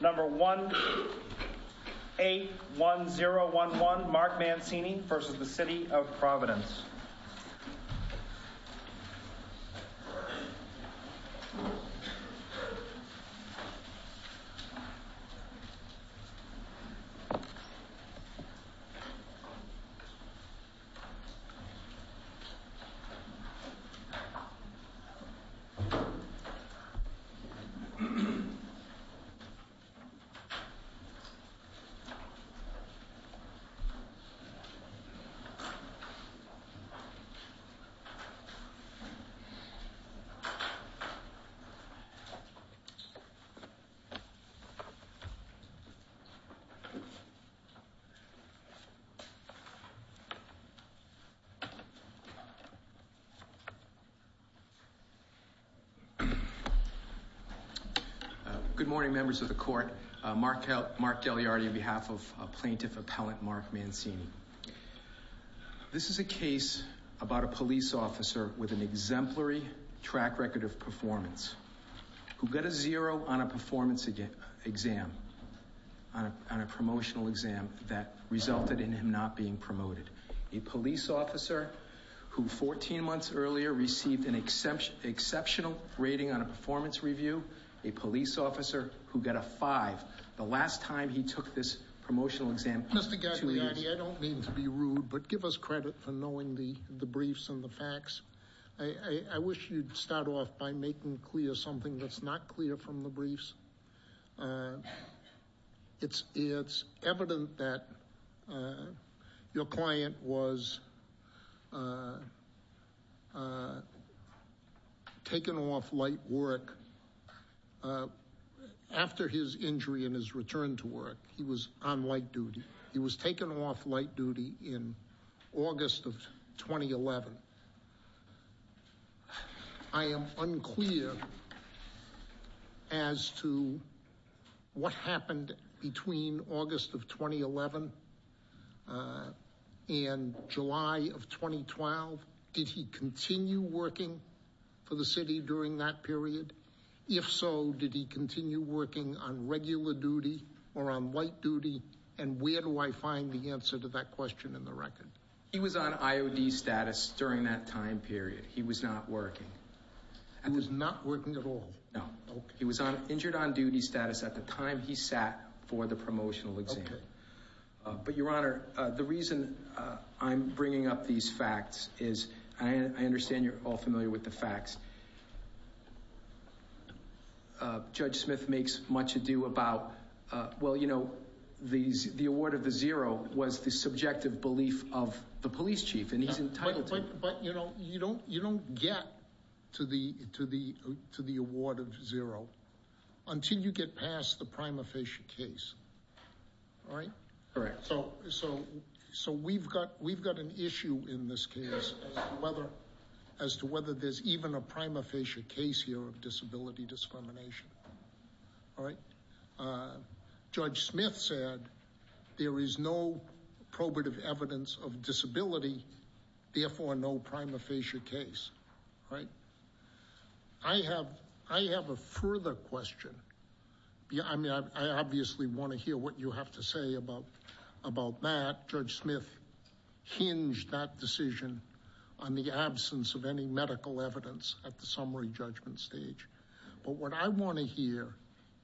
Number 181011 Mark Mancini v. City of Providence Good morning, members of the court. Mark Gagliardi on behalf of Plaintiff Appellant Mark Mancini. This is a case about a police officer with an exemplary track record of performance who got a zero on a promotional exam that resulted in him not being promoted. A police officer who 14 months earlier received an exceptional rating on a performance review. A police officer who got a five the last time he took this promotional exam. Mr. Gagliardi, I don't mean to be rude, but give us credit for knowing the briefs and the facts. I wish you'd start off by making clear something that's not clear from the briefs. It's evident that your client was taken off light work after his injury and his return to work. He was on light duty. He was taken off light duty in August of 2011. I am unclear as to what happened between August of 2011 and July of 2012. Did he continue working for the city during that period? If so, did he continue working on regular duty or on light duty? And where do I find the answer to that question in the record? He was on IOD status during that time period. He was not working. He was not working at all? No. He was injured on duty status at the time he sat for the promotional exam. But your honor, the reason I'm bringing up these facts is, and I understand you're all familiar with the facts, Judge Smith makes much ado about, well, you know, the award of the zero was the subjective belief of the police chief, and he's entitled to it. But you know, you don't get to the award of zero until you get past the prima facie case. All right? Correct. So we've got an issue in this case as to whether there's even a prima facie case here of disability discrimination. All right? Judge Smith said there is no probative evidence of disability, therefore, no prima facie case. All right? I have a further question. I obviously want to hear what you have to say about that. Judge Smith hinged that decision on the absence of any medical evidence at the summary judgment stage. But what I want to hear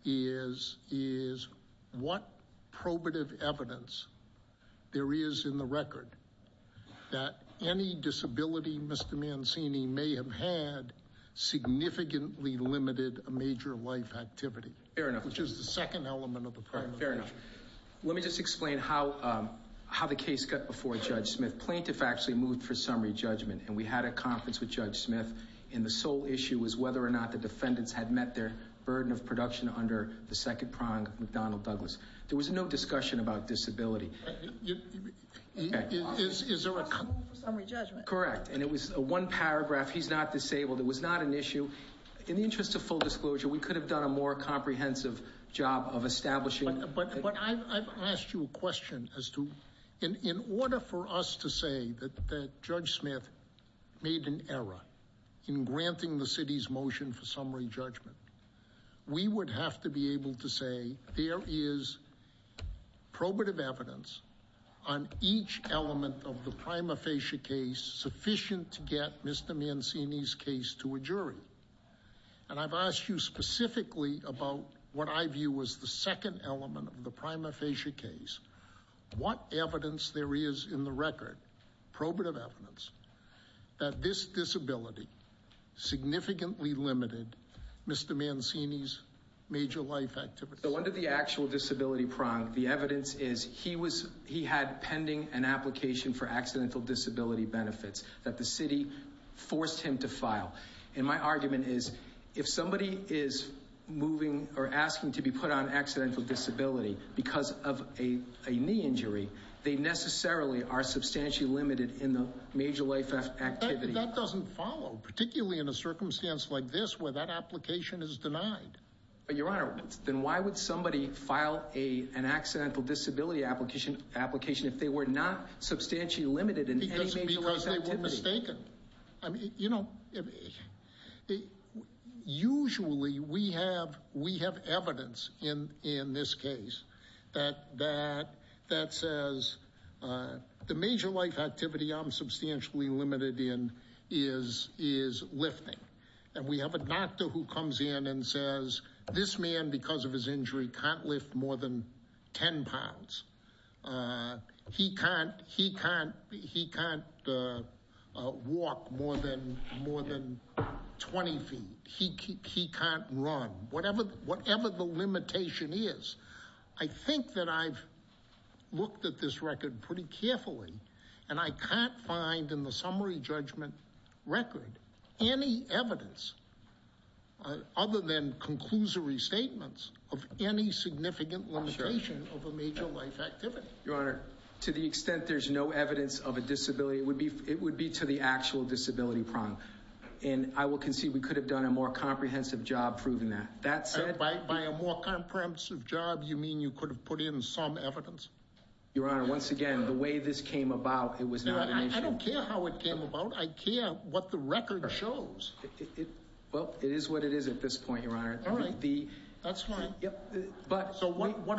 is, is what probative evidence there is in the record that any disability Mr. Mancini may have had significantly limited a major life activity. Fair enough. Which is the second element of the problem. Fair enough. Let me just explain how the case got before Judge Smith. Plaintiff actually moved for summary judgment, and we had a conference with Judge Smith, and the sole issue was whether or not the defendants had met their burden of production under the second prong of McDonnell Douglas. There was no discussion about disability. Is there a couple for summary judgment? Correct. And it was one paragraph, he's not disabled. It was not an issue. In the interest of full disclosure, we could have done a more comprehensive job of establishing. But I've asked you a question as to, in order for us to say that Judge Smith made an error in granting the city's motion for summary judgment, we would have to be able to say there is probative evidence on each element of the prima facie case sufficient to get Mr. Mancini's case to a jury. And I've asked you specifically about what I view as the second element of the prima facie case. What evidence there is in the record, probative evidence, that this disability significantly limited Mr. Mancini's major life activities? So under the actual disability prong, the evidence is he had pending an application And my argument is, if somebody is moving or asking to be put on accidental disability because of a knee injury, they necessarily are substantially limited in the major life activity. That doesn't follow, particularly in a circumstance like this where that application is denied. But your honor, then why would somebody file an accidental disability application if they were not substantially limited in any major life activity? Because they were mistaken. I mean, you know, usually we have evidence in this case that says the major life activity I'm substantially limited in is lifting. And we have a doctor who comes in and says this man, because of his injury, can't lift more than 10 pounds. He can't walk more than 20 feet. He can't run. Whatever the limitation is, I think that I've looked at this record pretty carefully and I can't find in the summary judgment record any evidence other than conclusory statements of any significant limitation of a major life activity. To the extent there's no evidence of a disability, it would be to the actual disability prong. And I would concede we could have done a more comprehensive job proving that. By a more comprehensive job, you mean you could have put in some evidence? Your honor, once again, the way this came about, it was not an issue. I don't care how it came about. I care what the record shows. Well, it is what it is at this point, your honor. That's right. So what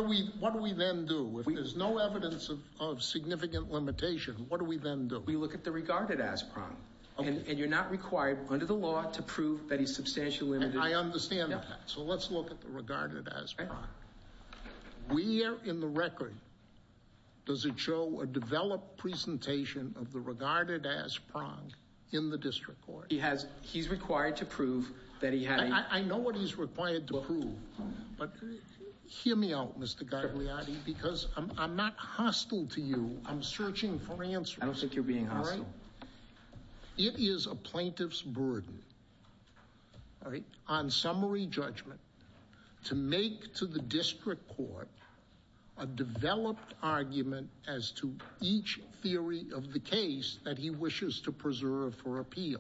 do we then do? If there's no evidence of significant limitation, what do we then do? We look at the regarded as prong. And you're not required under the law to prove that he's substantially limited. I understand that. So let's look at the regarded as prong. Where in the record does it show a developed presentation of the regarded as prong in the district court? He's required to prove that he had a- I know what he's required to prove, but hear me out, Mr. Gagliotti, because I'm not hostile to you. I'm searching for answers. I don't think you're being hostile. It is a plaintiff's burden on summary judgment to make to the district court a developed argument as to each theory of the case that he wishes to preserve for appeal.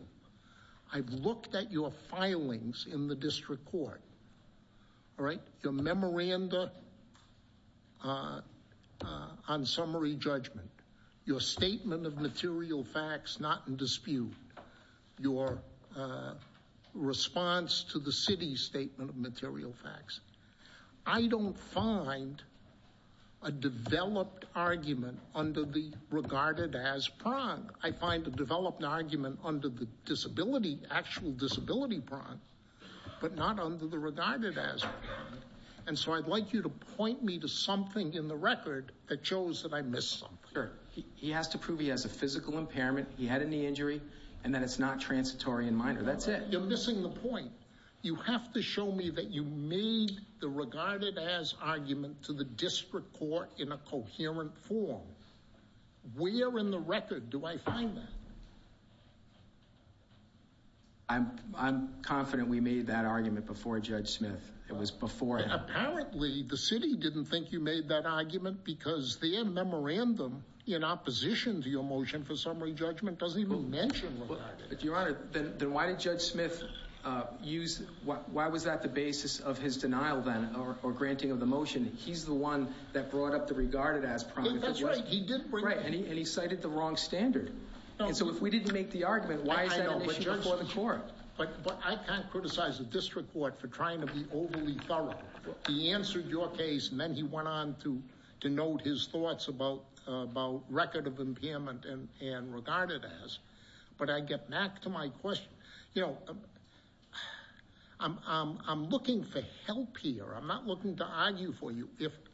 I've looked at your filings in the district court, all right, your memoranda on summary judgment, your statement of material facts not in dispute, your response to the city's statement of material facts. I don't find a developed argument under the regarded as prong. I find a developed argument under the disability, actual disability prong, but not under the regarded as prong. And so I'd like you to point me to something in the record that shows that I missed something. He has to prove he has a physical impairment, he had a knee injury, and that it's not transitory in minor. That's it. You're missing the point. You have to show me that you made the regarded as argument to the district court in a coherent form. Where in the record do I find that? I'm confident we made that argument before Judge Smith. It was before him. Apparently the city didn't think you made that argument because their memorandum in opposition to your motion for summary judgment doesn't even mention regarded. Your Honor, then why did Judge Smith use, why was that the basis of his denial then or granting of the motion? He's the one that brought up the regarded as prong. That's right. He did. Right. And he cited the wrong standard. And so if we didn't make the argument, why is that an issue before the court? But I can't criticize the district court for trying to be overly thorough. He answered your case and then he went on to denote his thoughts about record of impairment and regarded as. But I get back to my question, you know, I'm looking for help here. I'm not looking to argue for you.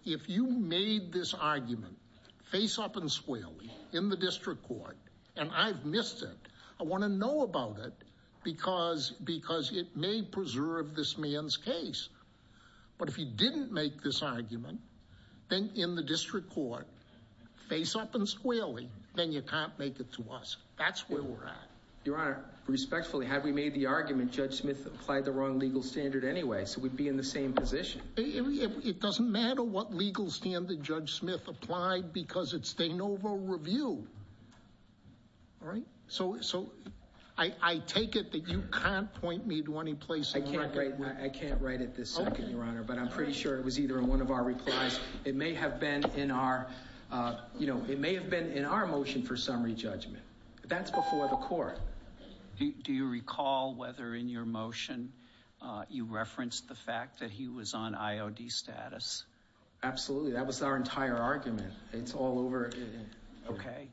If you made this argument face up and squarely in the district court and I've missed it, I want to know about it because it may preserve this man's case. But if you didn't make this argument, then in the district court, face up and squarely, then you can't make it to us. That's where we're at. Your Honor, respectfully, had we made the argument, Judge Smith applied the wrong legal standard anyway. So we'd be in the same position. It doesn't matter what legal standard Judge Smith applied because it's De Novo Review. All right. So so I take it that you can't point me to any place I can't write. I can't write it. This is your honor. But I'm pretty sure it was either in one of our replies. It may have been in our you know, it may have been in our motion for summary judgment. That's before the court. Do you recall whether in your motion you referenced the fact that he was on IOD status? Absolutely. That was our entire argument. It's all over. Okay.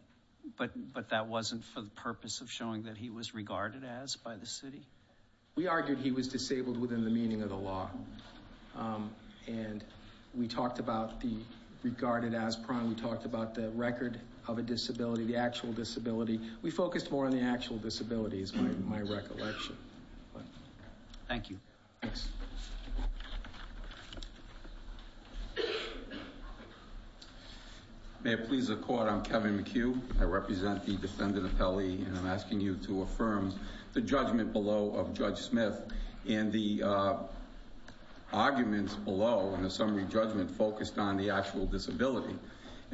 But but that wasn't for the purpose of showing that he was regarded as by the city. We argued he was disabled within the meaning of the law. And we talked about the regarded as prime. We talked about the record of a disability, the actual disability. We focused more on the actual disability is my recollection. Thank you. Thanks. May it please the court, I'm Kevin McHugh. I represent the defendant appellee and I'm asking you to affirm the judgment below of Judge Smith and the arguments below in the summary judgment focused on the actual disability.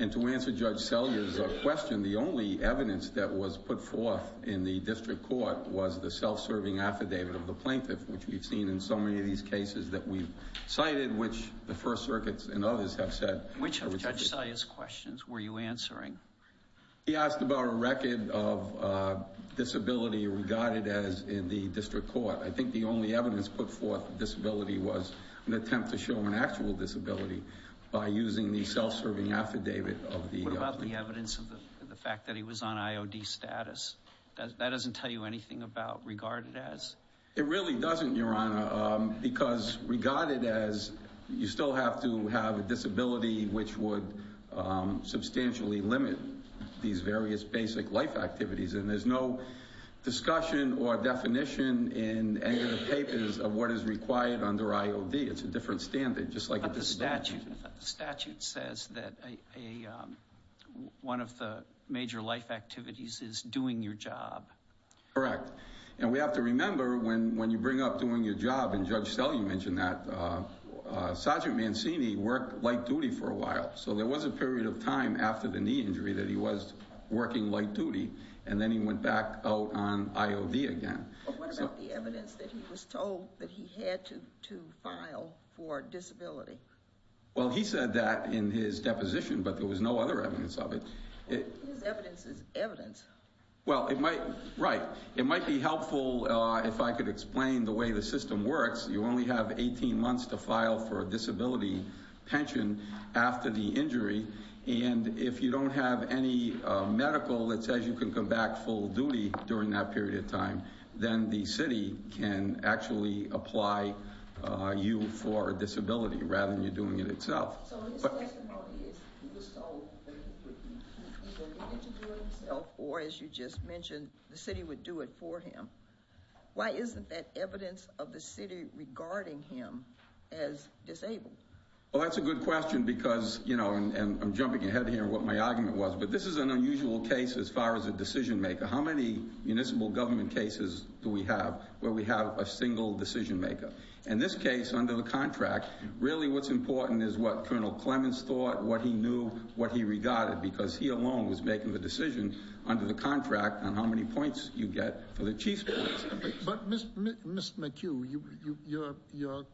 And to answer Judge Selya's question, the only evidence that was put forth in the district court was the self-serving affidavit of the plaintiff, which we've seen in so many of these cases that we've cited, which the First Circuits and others have said. Which of Judge Selya's questions were you answering? He asked about a record of disability regarded as in the district court. I think the only evidence put forth disability was an attempt to show an actual disability by using the self-serving affidavit of the plaintiff. What about the evidence of the fact that he was on IOD status? That doesn't tell you anything about regarded as? It really doesn't, Your Honor, because regarded as, you still have to have a disability which would substantially limit these various basic life activities. And there's no discussion or definition in any of the papers of what is required under IOD. It's a different standard. But the statute says that one of the major life activities is doing your job. Correct. And we have to remember, when you bring up doing your job, and Judge Selya mentioned that, Sergeant Mancini worked light duty for a while. So there was a period of time after the knee injury that he was working light duty, and then he went back out on IOD again. What about the evidence that he was told that he had to file for disability? Well, he said that in his deposition, but there was no other evidence of it. His evidence is evidence. Well, it might, right. It might be helpful if I could explain the way the system works. You only have 18 months to file for a disability pension after the injury. And if you don't have any medical that says you can come back full duty during that period of time, then the city can actually apply you for a disability, rather than you doing it itself. So his testimony is he was told that he would either be able to do it himself, or as you just mentioned, the city would do it for him. Why isn't that evidence of the city regarding him as disabled? Well, that's a good question because, you know, and I'm jumping ahead here, what my argument was. But this is an unusual case as far as a decision maker. How many municipal government cases do we have where we have a single decision maker? In this case, under the contract, really what's important is what Colonel Clements thought, what he knew, what he regarded, because he alone was making the decision under the contract on how many points you get for the chief's points. But Mr. McHugh, you're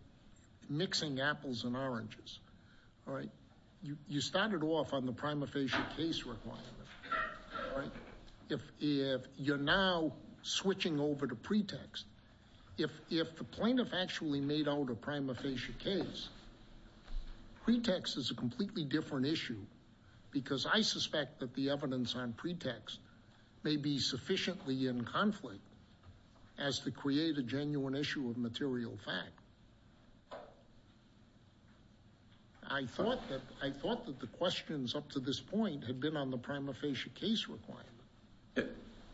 mixing apples and oranges, right? You started off on the prima facie case requirement, right? If you're now switching over to pretext, if the plaintiff actually made out a prima facie case, pretext is a completely different issue, because I suspect that the evidence on pretext may be sufficiently in conflict as to create a genuine issue of material fact. I thought that the questions up to this point had been on the prima facie case requirement.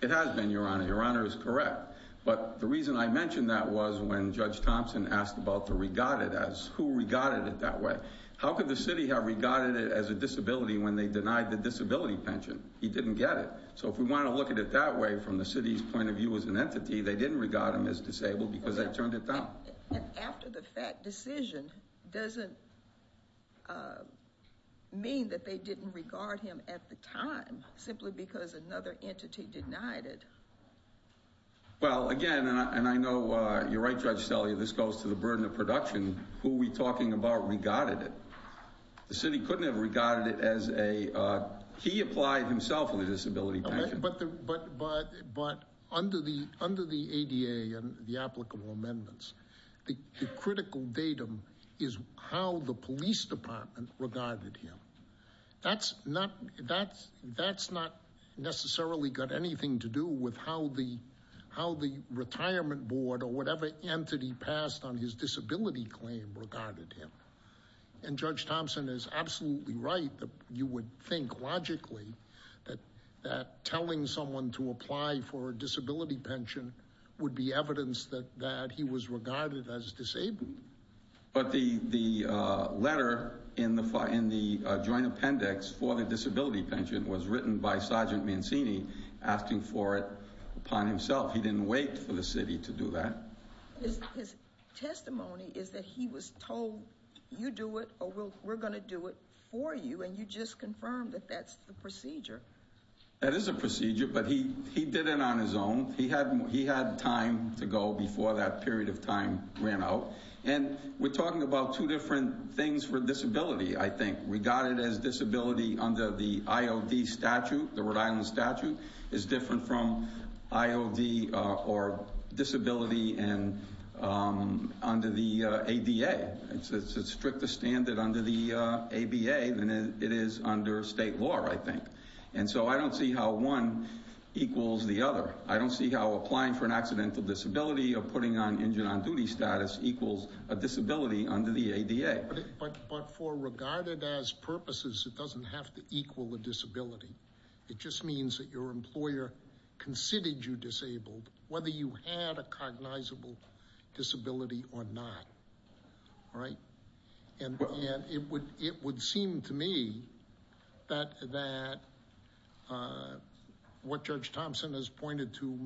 It has been, Your Honor. Your Honor is correct. But the reason I mentioned that was when Judge Thompson asked about the regarded as, who regarded it that way. How could the city have regarded it as a disability when they denied the disability pension? He didn't get it. So if we want to look at it that way, from the city's point of view as an entity, they didn't regard him as disabled because they turned it down. And after the fact decision doesn't mean that they didn't regard him at the time, simply because another entity denied it. Well, again, and I know you're right, Judge Selle, this goes to the burden of production. Who are we talking about regarded it? The city couldn't have regarded it as a, he applied himself with a disability pension. But under the ADA and the applicable amendments, the critical datum is how the police department regarded him. That's not necessarily got anything to do with how the retirement board or whatever entity passed on his disability claim regarded him. And Judge Thompson is absolutely right that you would think logically that telling someone to apply for a disability pension would be evidence that he was regarded as disabled. But the letter in the joint appendix for the disability pension was written by Sergeant Mancini asking for it upon himself. He didn't wait for the city to do that. His testimony is that he was told you do it or we're going to do it for you and you just confirmed that that's the procedure. That is a procedure, but he did it on his own. He had time to go before that period of time ran out. And we're talking about two different things for disability, I think. Regarded as disability under the IOD statute, the Rhode Island statute, is different from IOD or disability under the ADA. It's a stricter standard under the ABA than it is under state law, I think. And so I don't see how one equals the other. I don't see how applying for an accidental disability or putting on injured on duty status equals a disability under the ADA. But for regarded as purposes, it doesn't have to equal a disability. It just means that your employer considered you disabled, whether you had a cognizable disability or not, right? And it would seem to me that what Judge Thompson has pointed to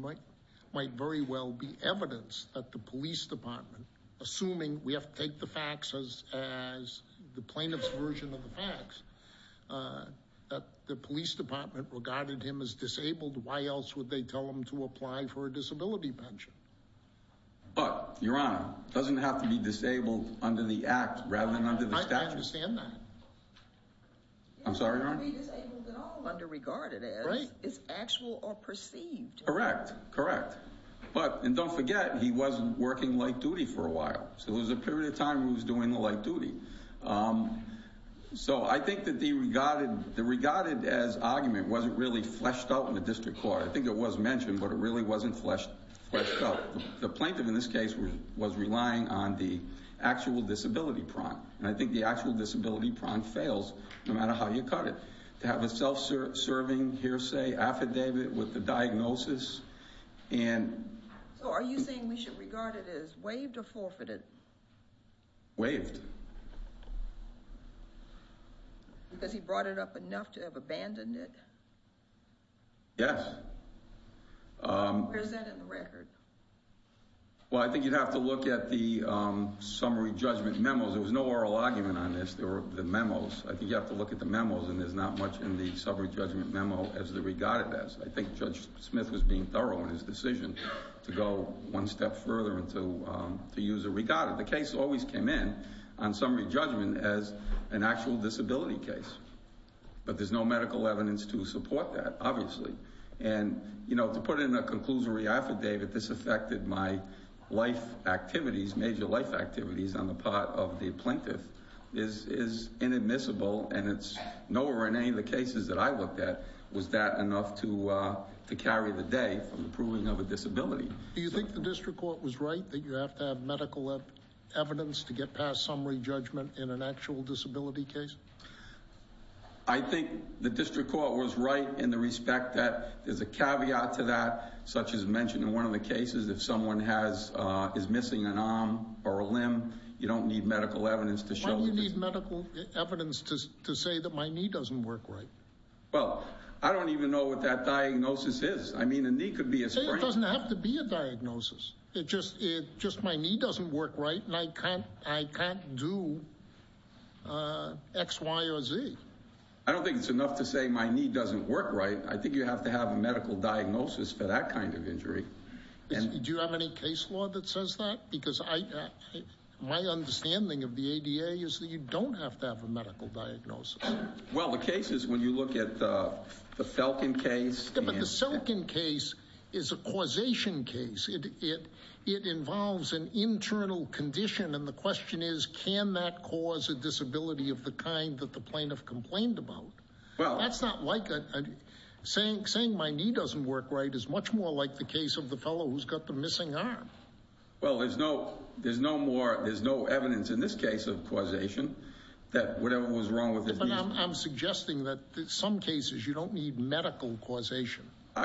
might very well be evidence that the police department, assuming we have to take the facts as the plaintiff's version of the facts, that the police department regarded him as disabled. Why else would they tell him to apply for a disability pension? But, Your Honor, it doesn't have to be disabled under the act rather than under the statute. I understand that. I'm sorry, Your Honor? It doesn't have to be disabled at all. Under regarded as. Right. It's actual or perceived. Correct. Correct. But, and don't forget, he wasn't working late duty for a while. So there was a period of time where he was doing the late duty. So I think that the regarded as argument wasn't really fleshed out in the district court. I think it was mentioned, but it really wasn't fleshed out. The plaintiff in this case was relying on the actual disability prompt, and I think the actual disability prompt fails no matter how you cut it. To have a self-serving hearsay affidavit with the diagnosis and... So are you saying we should regard it as waived or forfeited? Waived. Because he brought it up enough to have abandoned it? Yes. Where's that in the record? Well, I think you'd have to look at the summary judgment memos. There was no oral argument on this. There were the memos. I think you have to look at the memos, and there's not much in the summary judgment memo as the regarded as. I think Judge Smith was being thorough in his decision to go one step further and to use a regarded. The case always came in on summary judgment as an actual disability case. But there's no medical evidence to support that, obviously. And to put it in a conclusory affidavit, this affected my life activities, major life activities on the part of the plaintiff, is inadmissible, and it's nowhere in any of the cases that I looked at was that enough to carry the day from the proving of a disability. Do you think the district court was right that you have to have medical evidence to get past summary judgment in an actual disability case? I think the district court was right in the respect that there's a caveat to that, such as mentioned in one of the cases, if someone is missing an arm or a limb, you don't need medical evidence to show... Well, I don't even know what that diagnosis is. I mean, a knee could be a sprain. It doesn't have to be a diagnosis. It's just my knee doesn't work right, and I can't do X, Y, or Z. I don't think it's enough to say my knee doesn't work right. I think you have to have a medical diagnosis for that kind of injury. Do you have any case law that says that? Because my understanding of the ADA is that you don't have to have a medical diagnosis. Well, the cases, when you look at the Felken case... Yeah, but the Felken case is a causation case. It involves an internal condition, and the question is, can that cause a disability of the kind that the plaintiff complained about? That's not like... Saying my knee doesn't work right is much more like the case of the fellow who's got the missing arm. Well, there's no more... But I'm suggesting that in some cases, you don't need medical causation, all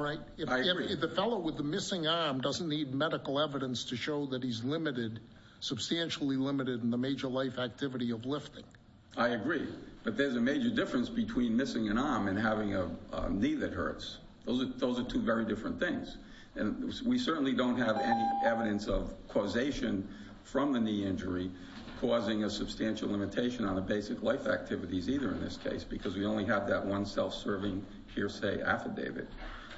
right? The fellow with the missing arm doesn't need medical evidence to show that he's substantially limited in the major life activity of lifting. I agree, but there's a major difference between missing an arm and having a knee that hurts. Those are two very different things, and we certainly don't have any evidence of causation from the knee injury causing a substantial limitation on the basic life activities either in this case, because we only have that one self-serving hearsay affidavit.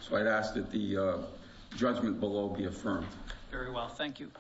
So I'd ask that the judgment below be affirmed. Very well. Thank you.